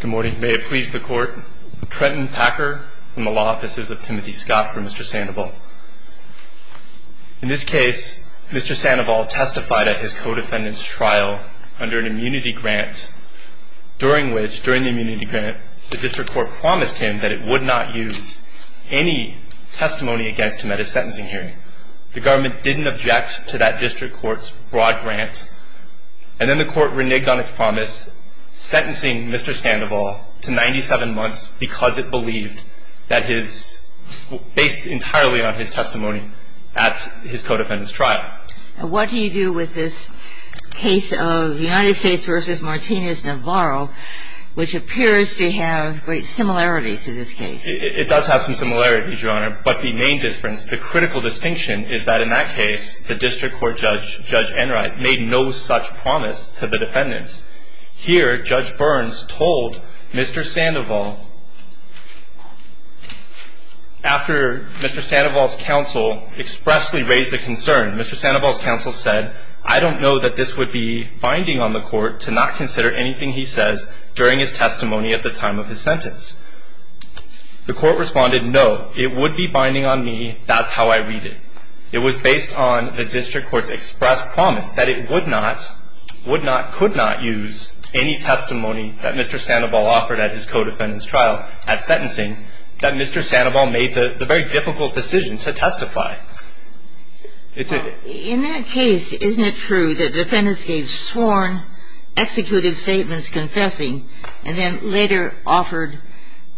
Good morning. May it please the court. Trenton Packer from the Law Offices of Timothy Scott for Mr. Sandoval. In this case, Mr. Sandoval testified at his co-defendant's trial under an immunity grant, during which, during the immunity grant, the district court promised him that it would not use any testimony against him at his sentencing hearing. The government didn't object to that district court's broad grant, and then the court reneged on its promise, sentencing Mr. Sandoval to 97 months because it believed that his based entirely on his testimony at his co-defendant's trial. What do you do with this case of United States v. Martinez-Navarro, which appears to have great similarities to this case? It does have some similarities, Your Honor, but the main difference, the critical distinction, is that in that case, the district court judge, Judge Enright, made no such promise to the defendants. Here, Judge Burns told Mr. Sandoval, after Mr. Sandoval's counsel expressly raised a concern, Mr. Sandoval's counsel said, I don't know that this would be binding on the court to not consider anything he says during his testimony at the time of his sentence. The court responded, no, it would be binding on me, that's how I read it. It was based on the district court's expressed promise that it would not, would not, could not use any testimony that Mr. Sandoval offered at his co-defendant's trial at sentencing, that Mr. Sandoval made the very difficult decision to testify. In that case, isn't it true that defendants gave sworn, executed statements confessing, and then later offered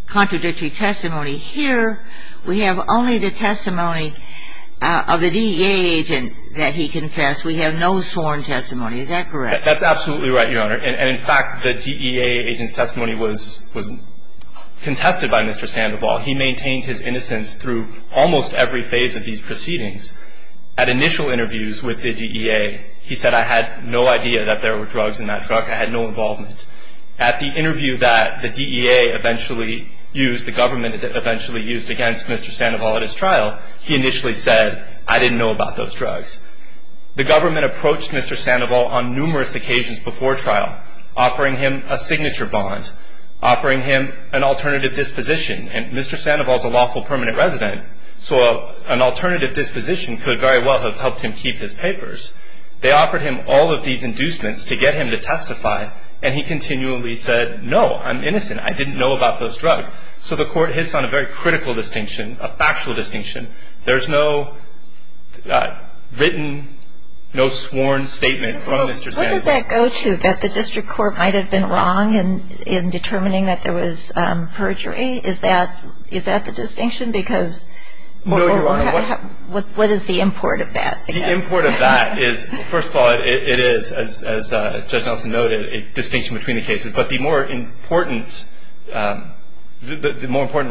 contradictory testimony? Here, we have only the testimony of the DEA agent that he confessed. We have no sworn testimony. Is that correct? That's absolutely right, Your Honor. And, in fact, the DEA agent's testimony was contested by Mr. Sandoval. He maintained his innocence through almost every phase of these proceedings. At initial interviews with the DEA, he said, I had no idea that there were drugs in that truck. I had no involvement. At the interview that the DEA eventually used, the government eventually used against Mr. Sandoval at his trial, he initially said, I didn't know about those drugs. The government approached Mr. Sandoval on numerous occasions before trial, offering him a signature bond, offering him an alternative disposition, and Mr. Sandoval's a lawful permanent resident, so an alternative disposition could very well have helped him keep his papers. They offered him all of these inducements to get him to testify, and he continually said, no, I'm innocent. I didn't know about those drugs. So the court hits on a very critical distinction, a factual distinction. There's no written, no sworn statement from Mr. Sandoval. What does that go to, that the district court might have been wrong in determining that there was perjury? Is that the distinction? No, Your Honor. What is the import of that? The import of that is, first of all, it is, as Judge Nelson noted, a distinction between the cases. But the more important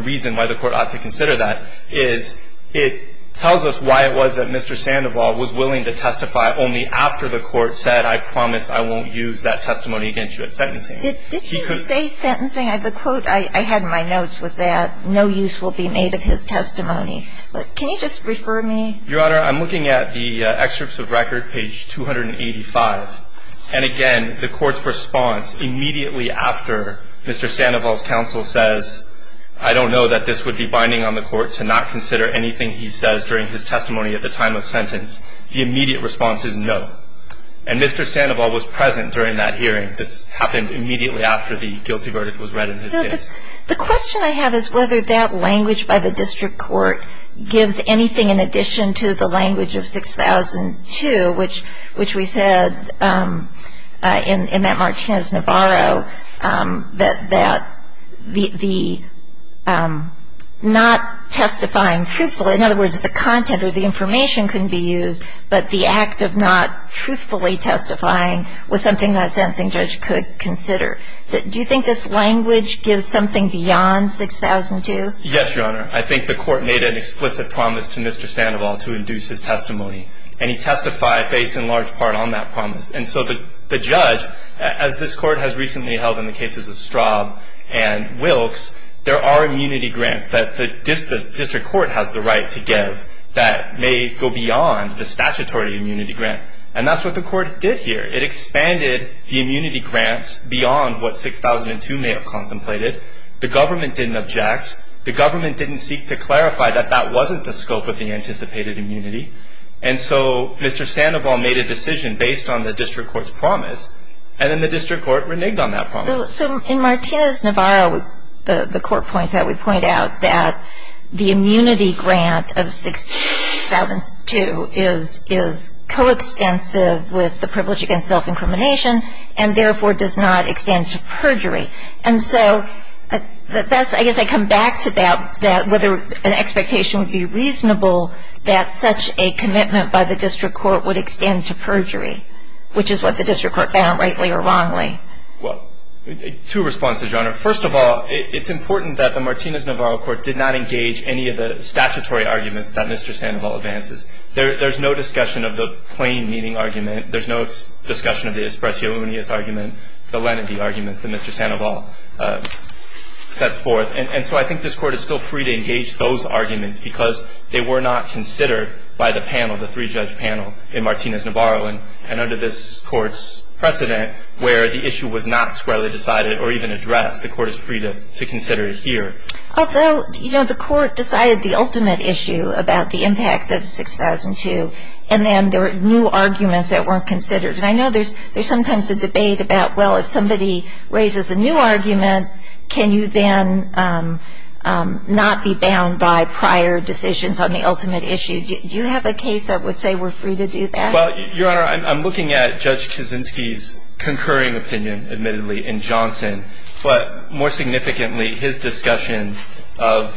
reason why the court ought to consider that is it tells us why it was that Mr. Sandoval was willing to testify only after the court said, I promise I won't use that testimony against you at sentencing. Did he say sentencing? The quote I had in my notes was that no use will be made of his testimony. But can you just refer me? Your Honor, I'm looking at the excerpts of record, page 285. And again, the court's response immediately after Mr. Sandoval's counsel says, I don't know that this would be binding on the court to not consider anything he says during his testimony at the time of sentence. The immediate response is no. And Mr. Sandoval was present during that hearing. This happened immediately after the guilty verdict was read in his case. The question I have is whether that language by the district court gives anything in addition to the language of 6002, which we said in that Martinez-Navarro that the not testifying truthfully, in other words, the content or the information couldn't be used, but the act of not truthfully testifying was something that a sentencing judge could consider. Do you think this language gives something beyond 6002? Yes, Your Honor. I think the court made an explicit promise to Mr. Sandoval to induce his testimony. And he testified based in large part on that promise. And so the judge, as this court has recently held in the cases of Straub and Wilkes, there are immunity grants that the district court has the right to give that may go beyond the statutory immunity grant. And that's what the court did here. It expanded the immunity grant beyond what 6002 may have contemplated. The government didn't object. The government didn't seek to clarify that that wasn't the scope of the anticipated immunity. And so Mr. Sandoval made a decision based on the district court's promise. And then the district court reneged on that promise. So in Martinez-Navarro, the court points out, we point out that the immunity grant of 6002 is coextensive with the privilege against self-incrimination and therefore does not extend to perjury. And so that's, I guess I come back to that, whether an expectation would be reasonable that such a commitment by the district court would extend to perjury, which is what the district court found rightly or wrongly. Well, two responses, Your Honor. First of all, it's important that the Martinez-Navarro court did not engage any of the statutory arguments that Mr. Sandoval advances. There's no discussion of the plain meaning argument. There's no discussion of the espresso unius argument, the lenity arguments that Mr. Sandoval sets forth. And so I think this court is still free to engage those arguments because they were not considered by the panel, the three-judge panel in Martinez-Navarro. And under this court's precedent where the issue was not squarely decided or even addressed, the court is free to consider it here. Although, you know, the court decided the ultimate issue about the impact of 6002, and then there were new arguments that weren't considered. And I know there's sometimes a debate about, well, if somebody raises a new argument, can you then not be bound by prior decisions on the ultimate issue? Do you have a case that would say we're free to do that? Well, Your Honor, I'm looking at Judge Kaczynski's concurring opinion, admittedly, in Johnson. But more significantly, his discussion of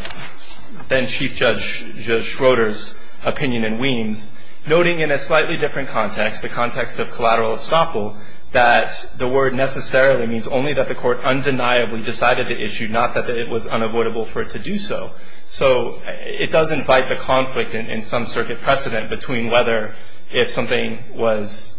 then-Chief Judge Schroeder's opinion in Weems, noting in a slightly different context, the context of collateral estoppel, that the word necessarily means only that the court undeniably decided the issue, not that it was unavoidable for it to do so. So it does invite the conflict in some circuit precedent between whether if something was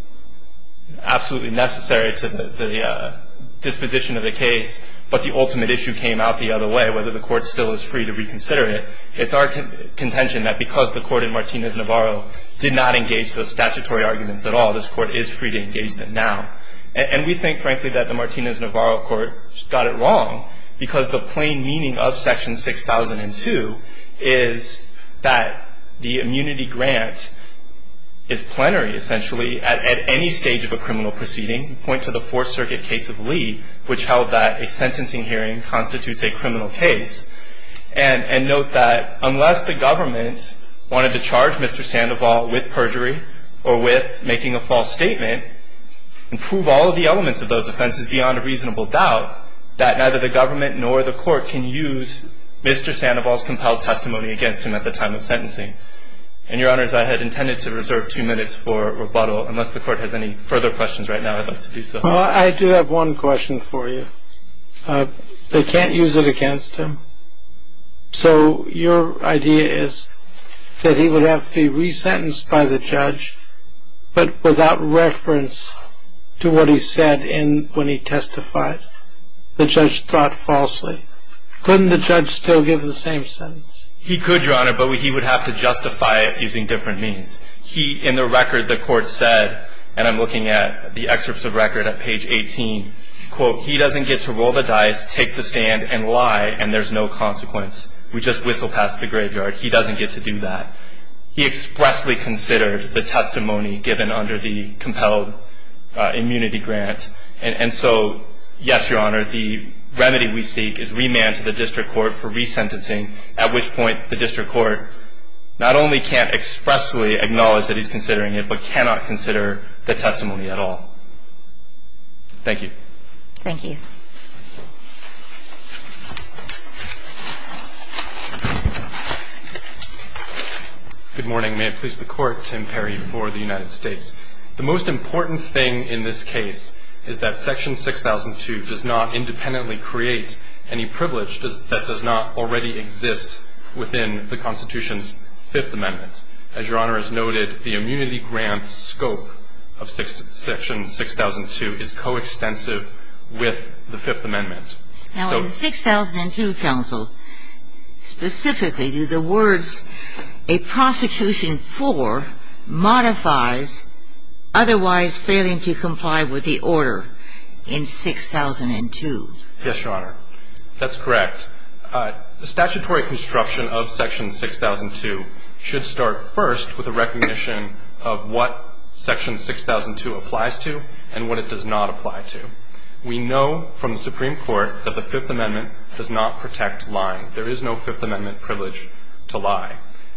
absolutely necessary to the disposition of the case, but the ultimate issue came out the other way, whether the court still is free to reconsider it. It's our contention that because the court in Martinez-Navarro did not engage those statutory arguments at all, this court is free to engage them now. And we think, frankly, that the Martinez-Navarro court got it wrong because the plain meaning of Section 6002 is that the immunity grant is plenary, essentially, at any stage of a criminal proceeding, point to the Fourth Circuit case of Lee, which held that a sentencing hearing constitutes a criminal case. And note that unless the government wanted to charge Mr. Sandoval with perjury or with making a false statement and prove all of the elements of those offenses beyond a reasonable doubt, that neither the government nor the court can use Mr. Sandoval's compelled testimony against him at the time of sentencing. And, Your Honors, I had intended to reserve two minutes for rebuttal. Unless the court has any further questions right now, I'd like to do so. Well, I do have one question for you. They can't use it against him. So your idea is that he would have to be resentenced by the judge, but without reference to what he said when he testified, the judge thought falsely. Couldn't the judge still give the same sentence? He could, Your Honor, but he would have to justify it using different means. He, in the record, the court said, and I'm looking at the excerpts of record at page 18, quote, he doesn't get to roll the dice, take the stand, and lie, and there's no consequence. We just whistle past the graveyard. He doesn't get to do that. He expressly considered the testimony given under the compelled immunity grant. And so, yes, Your Honor, the remedy we seek is remand to the district court for resentencing, at which point the district court not only can't expressly acknowledge that he's considering it, but cannot consider the testimony at all. Thank you. Thank you. Good morning. May it please the Court. Tim Perry for the United States. The most important thing in this case is that Section 6002 does not independently create any privilege that does not already exist within the Constitution's Fifth Amendment. As Your Honor has noted, the immunity grant scope of Section 6002 is coextensive with the Fifth Amendment. Now, in the 6002 counsel, specifically, do the words, a prosecution for modifies otherwise failing to comply with the order in 6002? Yes, Your Honor. That's correct. The statutory construction of Section 6002 should start first with a recognition of what Section 6002 applies to and what it does not apply to. We know from the Supreme Court that the Fifth Amendment does not protect lying. There is no Fifth Amendment privilege to lie.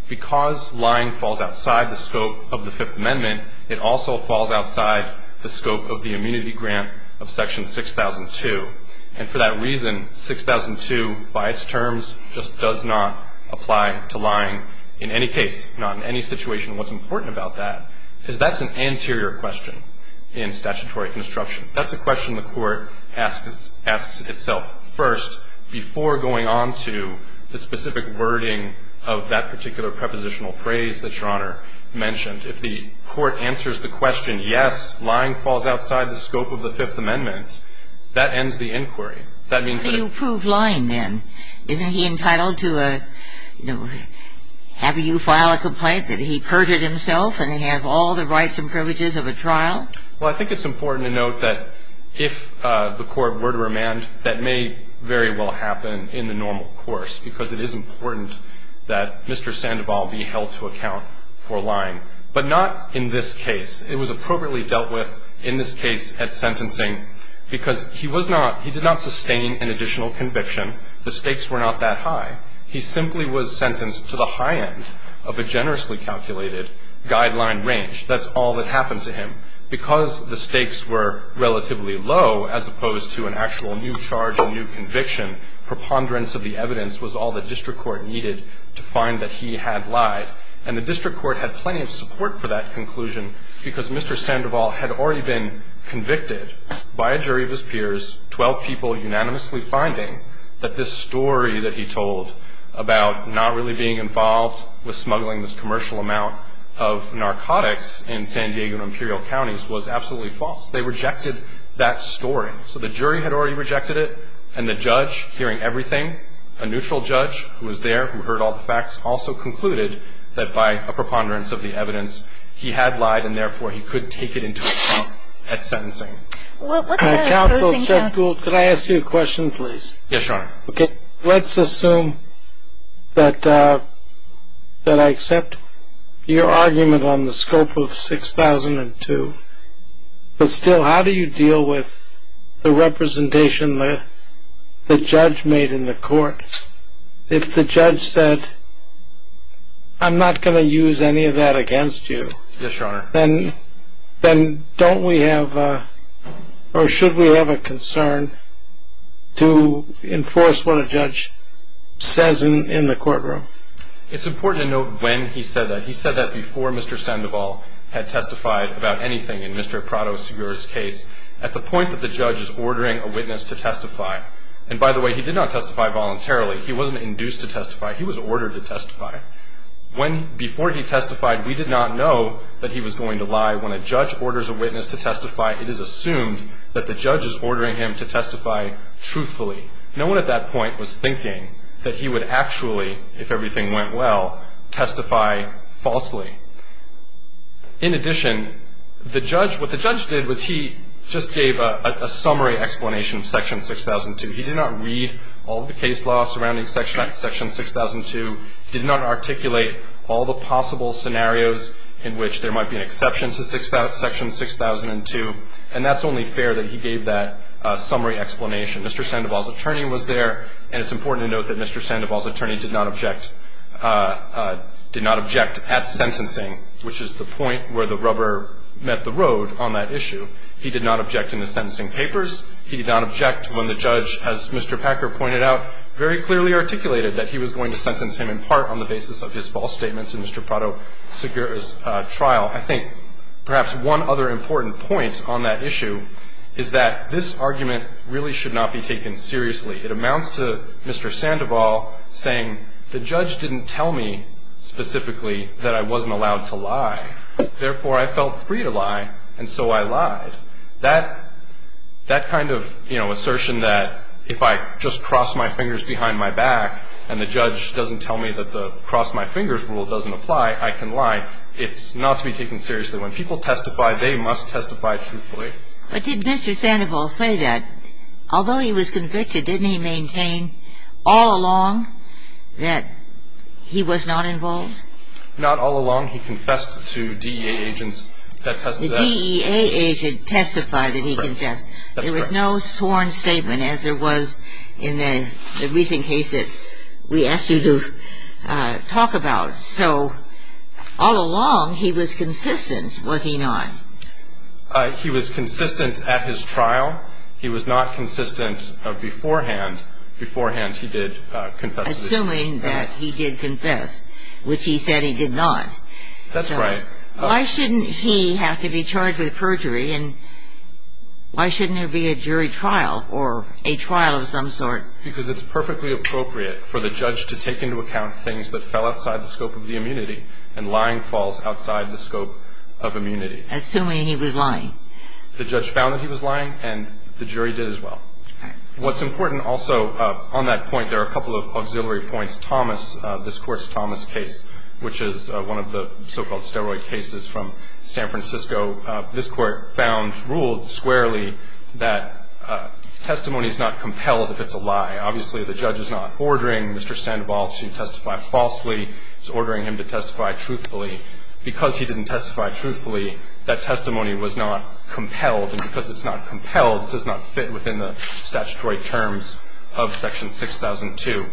Because lying falls outside the scope of the Fifth Amendment, it also falls outside the scope of the immunity grant of Section 6002. And for that reason, 6002, by its terms, just does not apply to lying in any case, not in any situation. And what's important about that is that's an anterior question in statutory construction. That's a question the Court asks itself first before going on to the specific wording of that particular prepositional phrase that Your Honor mentioned. If the Court answers the question, yes, lying falls outside the scope of the Fifth Amendment, that ends the inquiry. That means that it's not a privilege to lie. I think it's important to note that if the Court were to remand, that may very well happen in the normal course, because it is important that Mr. Sandoval be held to account for lying. But not in this case. It was appropriately dealt with in this case at sentencing because he was not – he did not sustain an additional conviction. The stakes were not that high. He simply was sentenced to the high end of a generously calculated guideline range. That's all that happened to him. Because the stakes were relatively low as opposed to an actual new charge and new conviction, preponderance of the evidence was all the district court needed to find that he had lied. And the district court had plenty of support for that conclusion because Mr. Sandoval had already been convicted by a jury of his peers, 12 people unanimously finding that this story that he told about not really being involved with smuggling this commercial amount of narcotics in San Diego and Imperial counties was absolutely false. They rejected that story. So the jury had already rejected it, and the judge, hearing everything, a neutral judge who was there, who heard all the facts, also concluded that by a preponderance of the evidence he had lied and therefore he could take it into account at sentencing. Counsel, Jeff Gould, could I ask you a question, please? Yes, Your Honor. Let's assume that I accept your argument on the scope of 6002, but still how do you deal with the representation the judge made in the court? If the judge said, I'm not going to use any of that against you, then don't we have or should we have a concern to enforce what a judge says in the courtroom? It's important to note when he said that. He said that before Mr. Sandoval had testified about anything in Mr. Prado-Segura's case at the point that the judge is ordering a witness to testify. And by the way, he did not testify voluntarily. He wasn't induced to testify. He was ordered to testify. Before he testified, we did not know that he was going to lie. When a judge orders a witness to testify, it is assumed that the judge is ordering him to testify truthfully. No one at that point was thinking that he would actually, if everything went well, testify falsely. In addition, what the judge did was he just gave a summary explanation of section 6002. He did not read all of the case law surrounding section 6002. He did not articulate all the possible scenarios in which there might be an exception to section 6002. And that's only fair that he gave that summary explanation. Mr. Sandoval's attorney was there. And it's important to note that Mr. Sandoval's attorney did not object at sentencing, which is the point where the rubber met the road on that issue. He did not object in the sentencing papers. He did not object when the judge, as Mr. Packer pointed out, very clearly articulated that he was going to sentence him in part on the basis of his false statements in Mr. Prado-Segura's trial. I think perhaps one other important point on that issue is that this argument really should not be taken seriously. It amounts to Mr. Sandoval saying the judge didn't tell me specifically that I wasn't allowed to lie. Therefore, I felt free to lie, and so I lied. That kind of, you know, assertion that if I just cross my fingers behind my back and the judge doesn't tell me that the cross my fingers rule doesn't apply, I can lie, it's not to be taken seriously. When people testify, they must testify truthfully. But did Mr. Sandoval say that, although he was convicted, didn't he maintain all along that he was not involved? Not all along. He confessed to DEA agents that testified. The DEA agent testified that he confessed. There was no sworn statement as there was in the recent case that we asked you to talk about. So all along, he was consistent, was he not? He was consistent at his trial. He was not consistent beforehand. Beforehand, he did confess. Assuming that he did confess, which he said he did not. That's right. Why shouldn't he have to be charged with perjury, and why shouldn't there be a jury trial or a trial of some sort? Because it's perfectly appropriate for the judge to take into account things that fell outside the scope of the immunity, and lying falls outside the scope of immunity. Assuming he was lying. The judge found that he was lying, and the jury did as well. All right. What's important also on that point, there are a couple of auxiliary points. The first is that this Court's Thomas case, which is one of the so-called steroid cases from San Francisco, this Court found ruled squarely that testimony is not compelled if it's a lie. Obviously, the judge is not ordering Mr. Sandoval to testify falsely. He's ordering him to testify truthfully. Because he didn't testify truthfully, that testimony was not compelled, and because it's not compelled, it does not fit within the statutory terms of Section 6002.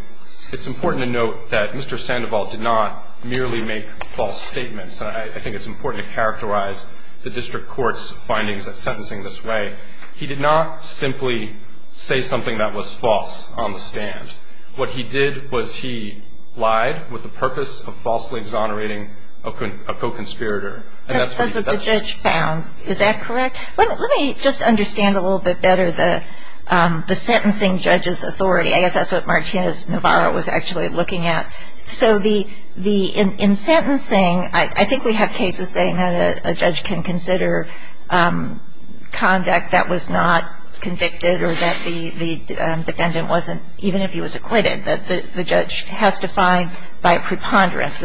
It's important to note that Mr. Sandoval did not merely make false statements. I think it's important to characterize the district court's findings in sentencing this way. He did not simply say something that was false on the stand. What he did was he lied with the purpose of falsely exonerating a co-conspirator. That's what the judge found. Is that correct? Let me just understand a little bit better the sentencing judge's authority. I guess that's what Martinez-Navarro was actually looking at. So in sentencing, I think we have cases saying that a judge can consider conduct that was not convicted or that the defendant wasn't, even if he was acquitted, that the judge has to find by preponderance.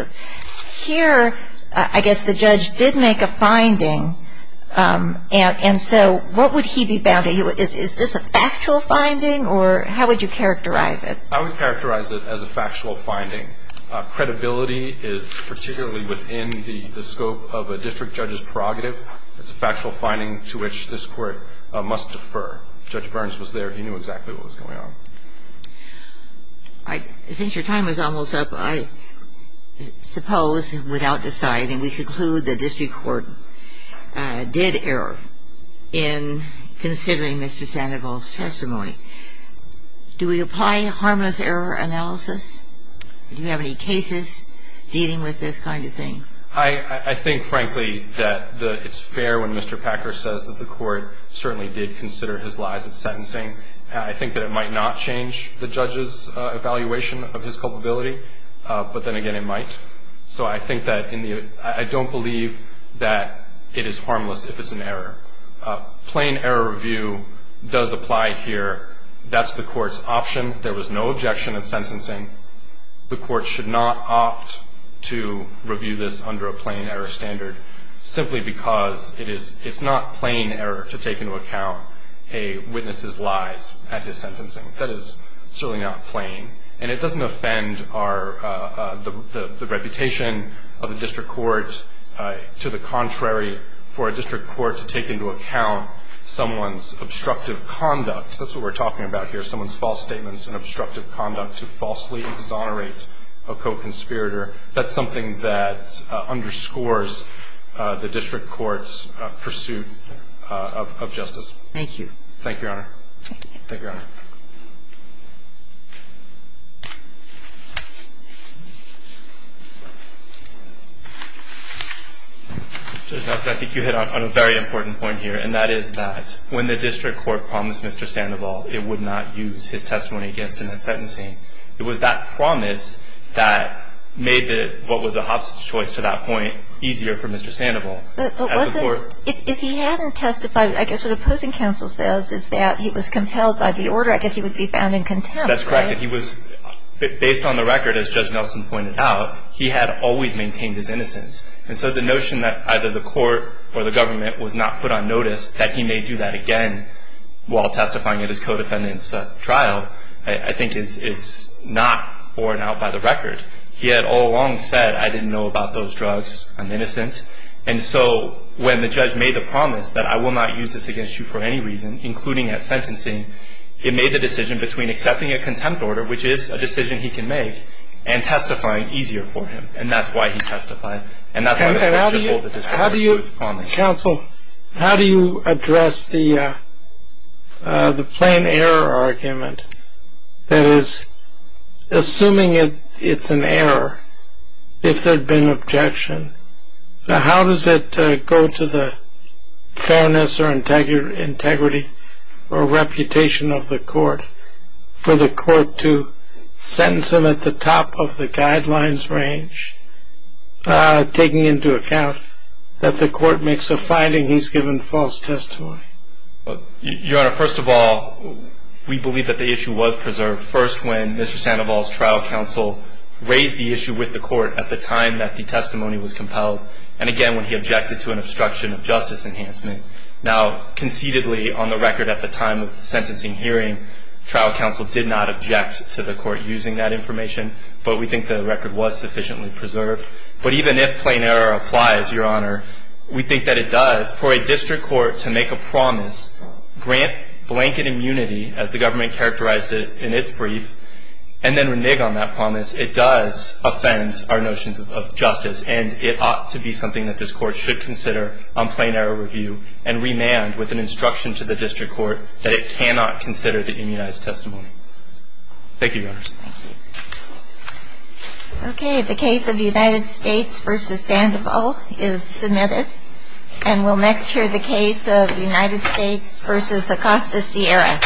Here, I guess the judge did make a finding, and so what would he be bound to? Is this a factual finding, or how would you characterize it? I would characterize it as a factual finding. Credibility is particularly within the scope of a district judge's prerogative. It's a factual finding to which this Court must defer. Judge Burns was there. He knew exactly what was going on. Since your time is almost up, I suppose, without deciding, we conclude the district court did err in considering Mr. Sandoval's testimony. Do we apply harmless error analysis? Do you have any cases dealing with this kind of thing? I think, frankly, that it's fair when Mr. Packer says that the court certainly did consider his lies at sentencing. I think that it might not change the judge's evaluation of his culpability, but then again, it might. So I think that in the end, I don't believe that it is harmless if it's an error. Plain error review does apply here. That's the court's option. There was no objection at sentencing. The court should not opt to review this under a plain error standard, simply because it's not plain error to take into account a witness's lies at his sentencing. That is certainly not plain. And it doesn't offend the reputation of the district court. To the contrary, for a district court to take into account someone's obstructive conduct, that's what we're talking about here, someone's false statements and obstructive conduct to falsely exonerate a co-conspirator, that's something that underscores the district court's pursuit of justice. Thank you. Thank you, Your Honor. Thank you. Thank you, Your Honor. Judge Nassif, I think you hit on a very important point here, and that is that when the district court promised Mr. Sandoval it would not use his testimony against him at sentencing, it was that promise that made what was a Hobson choice to that point easier for Mr. Sandoval. If he hadn't testified, I guess what opposing counsel says is that he was compelled by the order, I guess he would be found in contempt, right? That's correct. Based on the record, as Judge Nelson pointed out, he had always maintained his innocence. And so the notion that either the court or the government was not put on notice, that he may do that again while testifying at his co-defendant's trial, I think is not borne out by the record. He had all along said, I didn't know about those drugs, I'm innocent. And so when the judge made the promise that I will not use this against you for any reason, including at sentencing, it made the decision between accepting a contempt order, which is a decision he can make, and testifying easier for him. And that's why he testified. And that's why the district court fulfilled its promise. Counsel, how do you address the plain error argument? That is, assuming it's an error, if there had been objection, how does it go to the fairness or integrity or reputation of the court for the court to sentence him at the top of the guidelines range, taking into account that the court makes a finding he's given false testimony? Your Honor, first of all, we believe that the issue was preserved, first when Mr. Sandoval's trial counsel raised the issue with the court at the time that the testimony was compelled, and again when he objected to an obstruction of justice enhancement. Now, concededly, on the record at the time of the sentencing hearing, trial counsel did not object to the court using that information, but we think the record was sufficiently preserved. But even if plain error applies, Your Honor, we think that it does for a district court to make a promise, grant blanket immunity as the government characterized it in its brief, and then renege on that promise. It does offend our notions of justice, and it ought to be something that this court should consider on plain error review and remand with an instruction to the district court that it cannot consider the immunized testimony. Thank you, Your Honor. Thank you. Okay, the case of United States v. Sandoval is submitted, and we'll next hear the case of United States v. Acosta Sierra.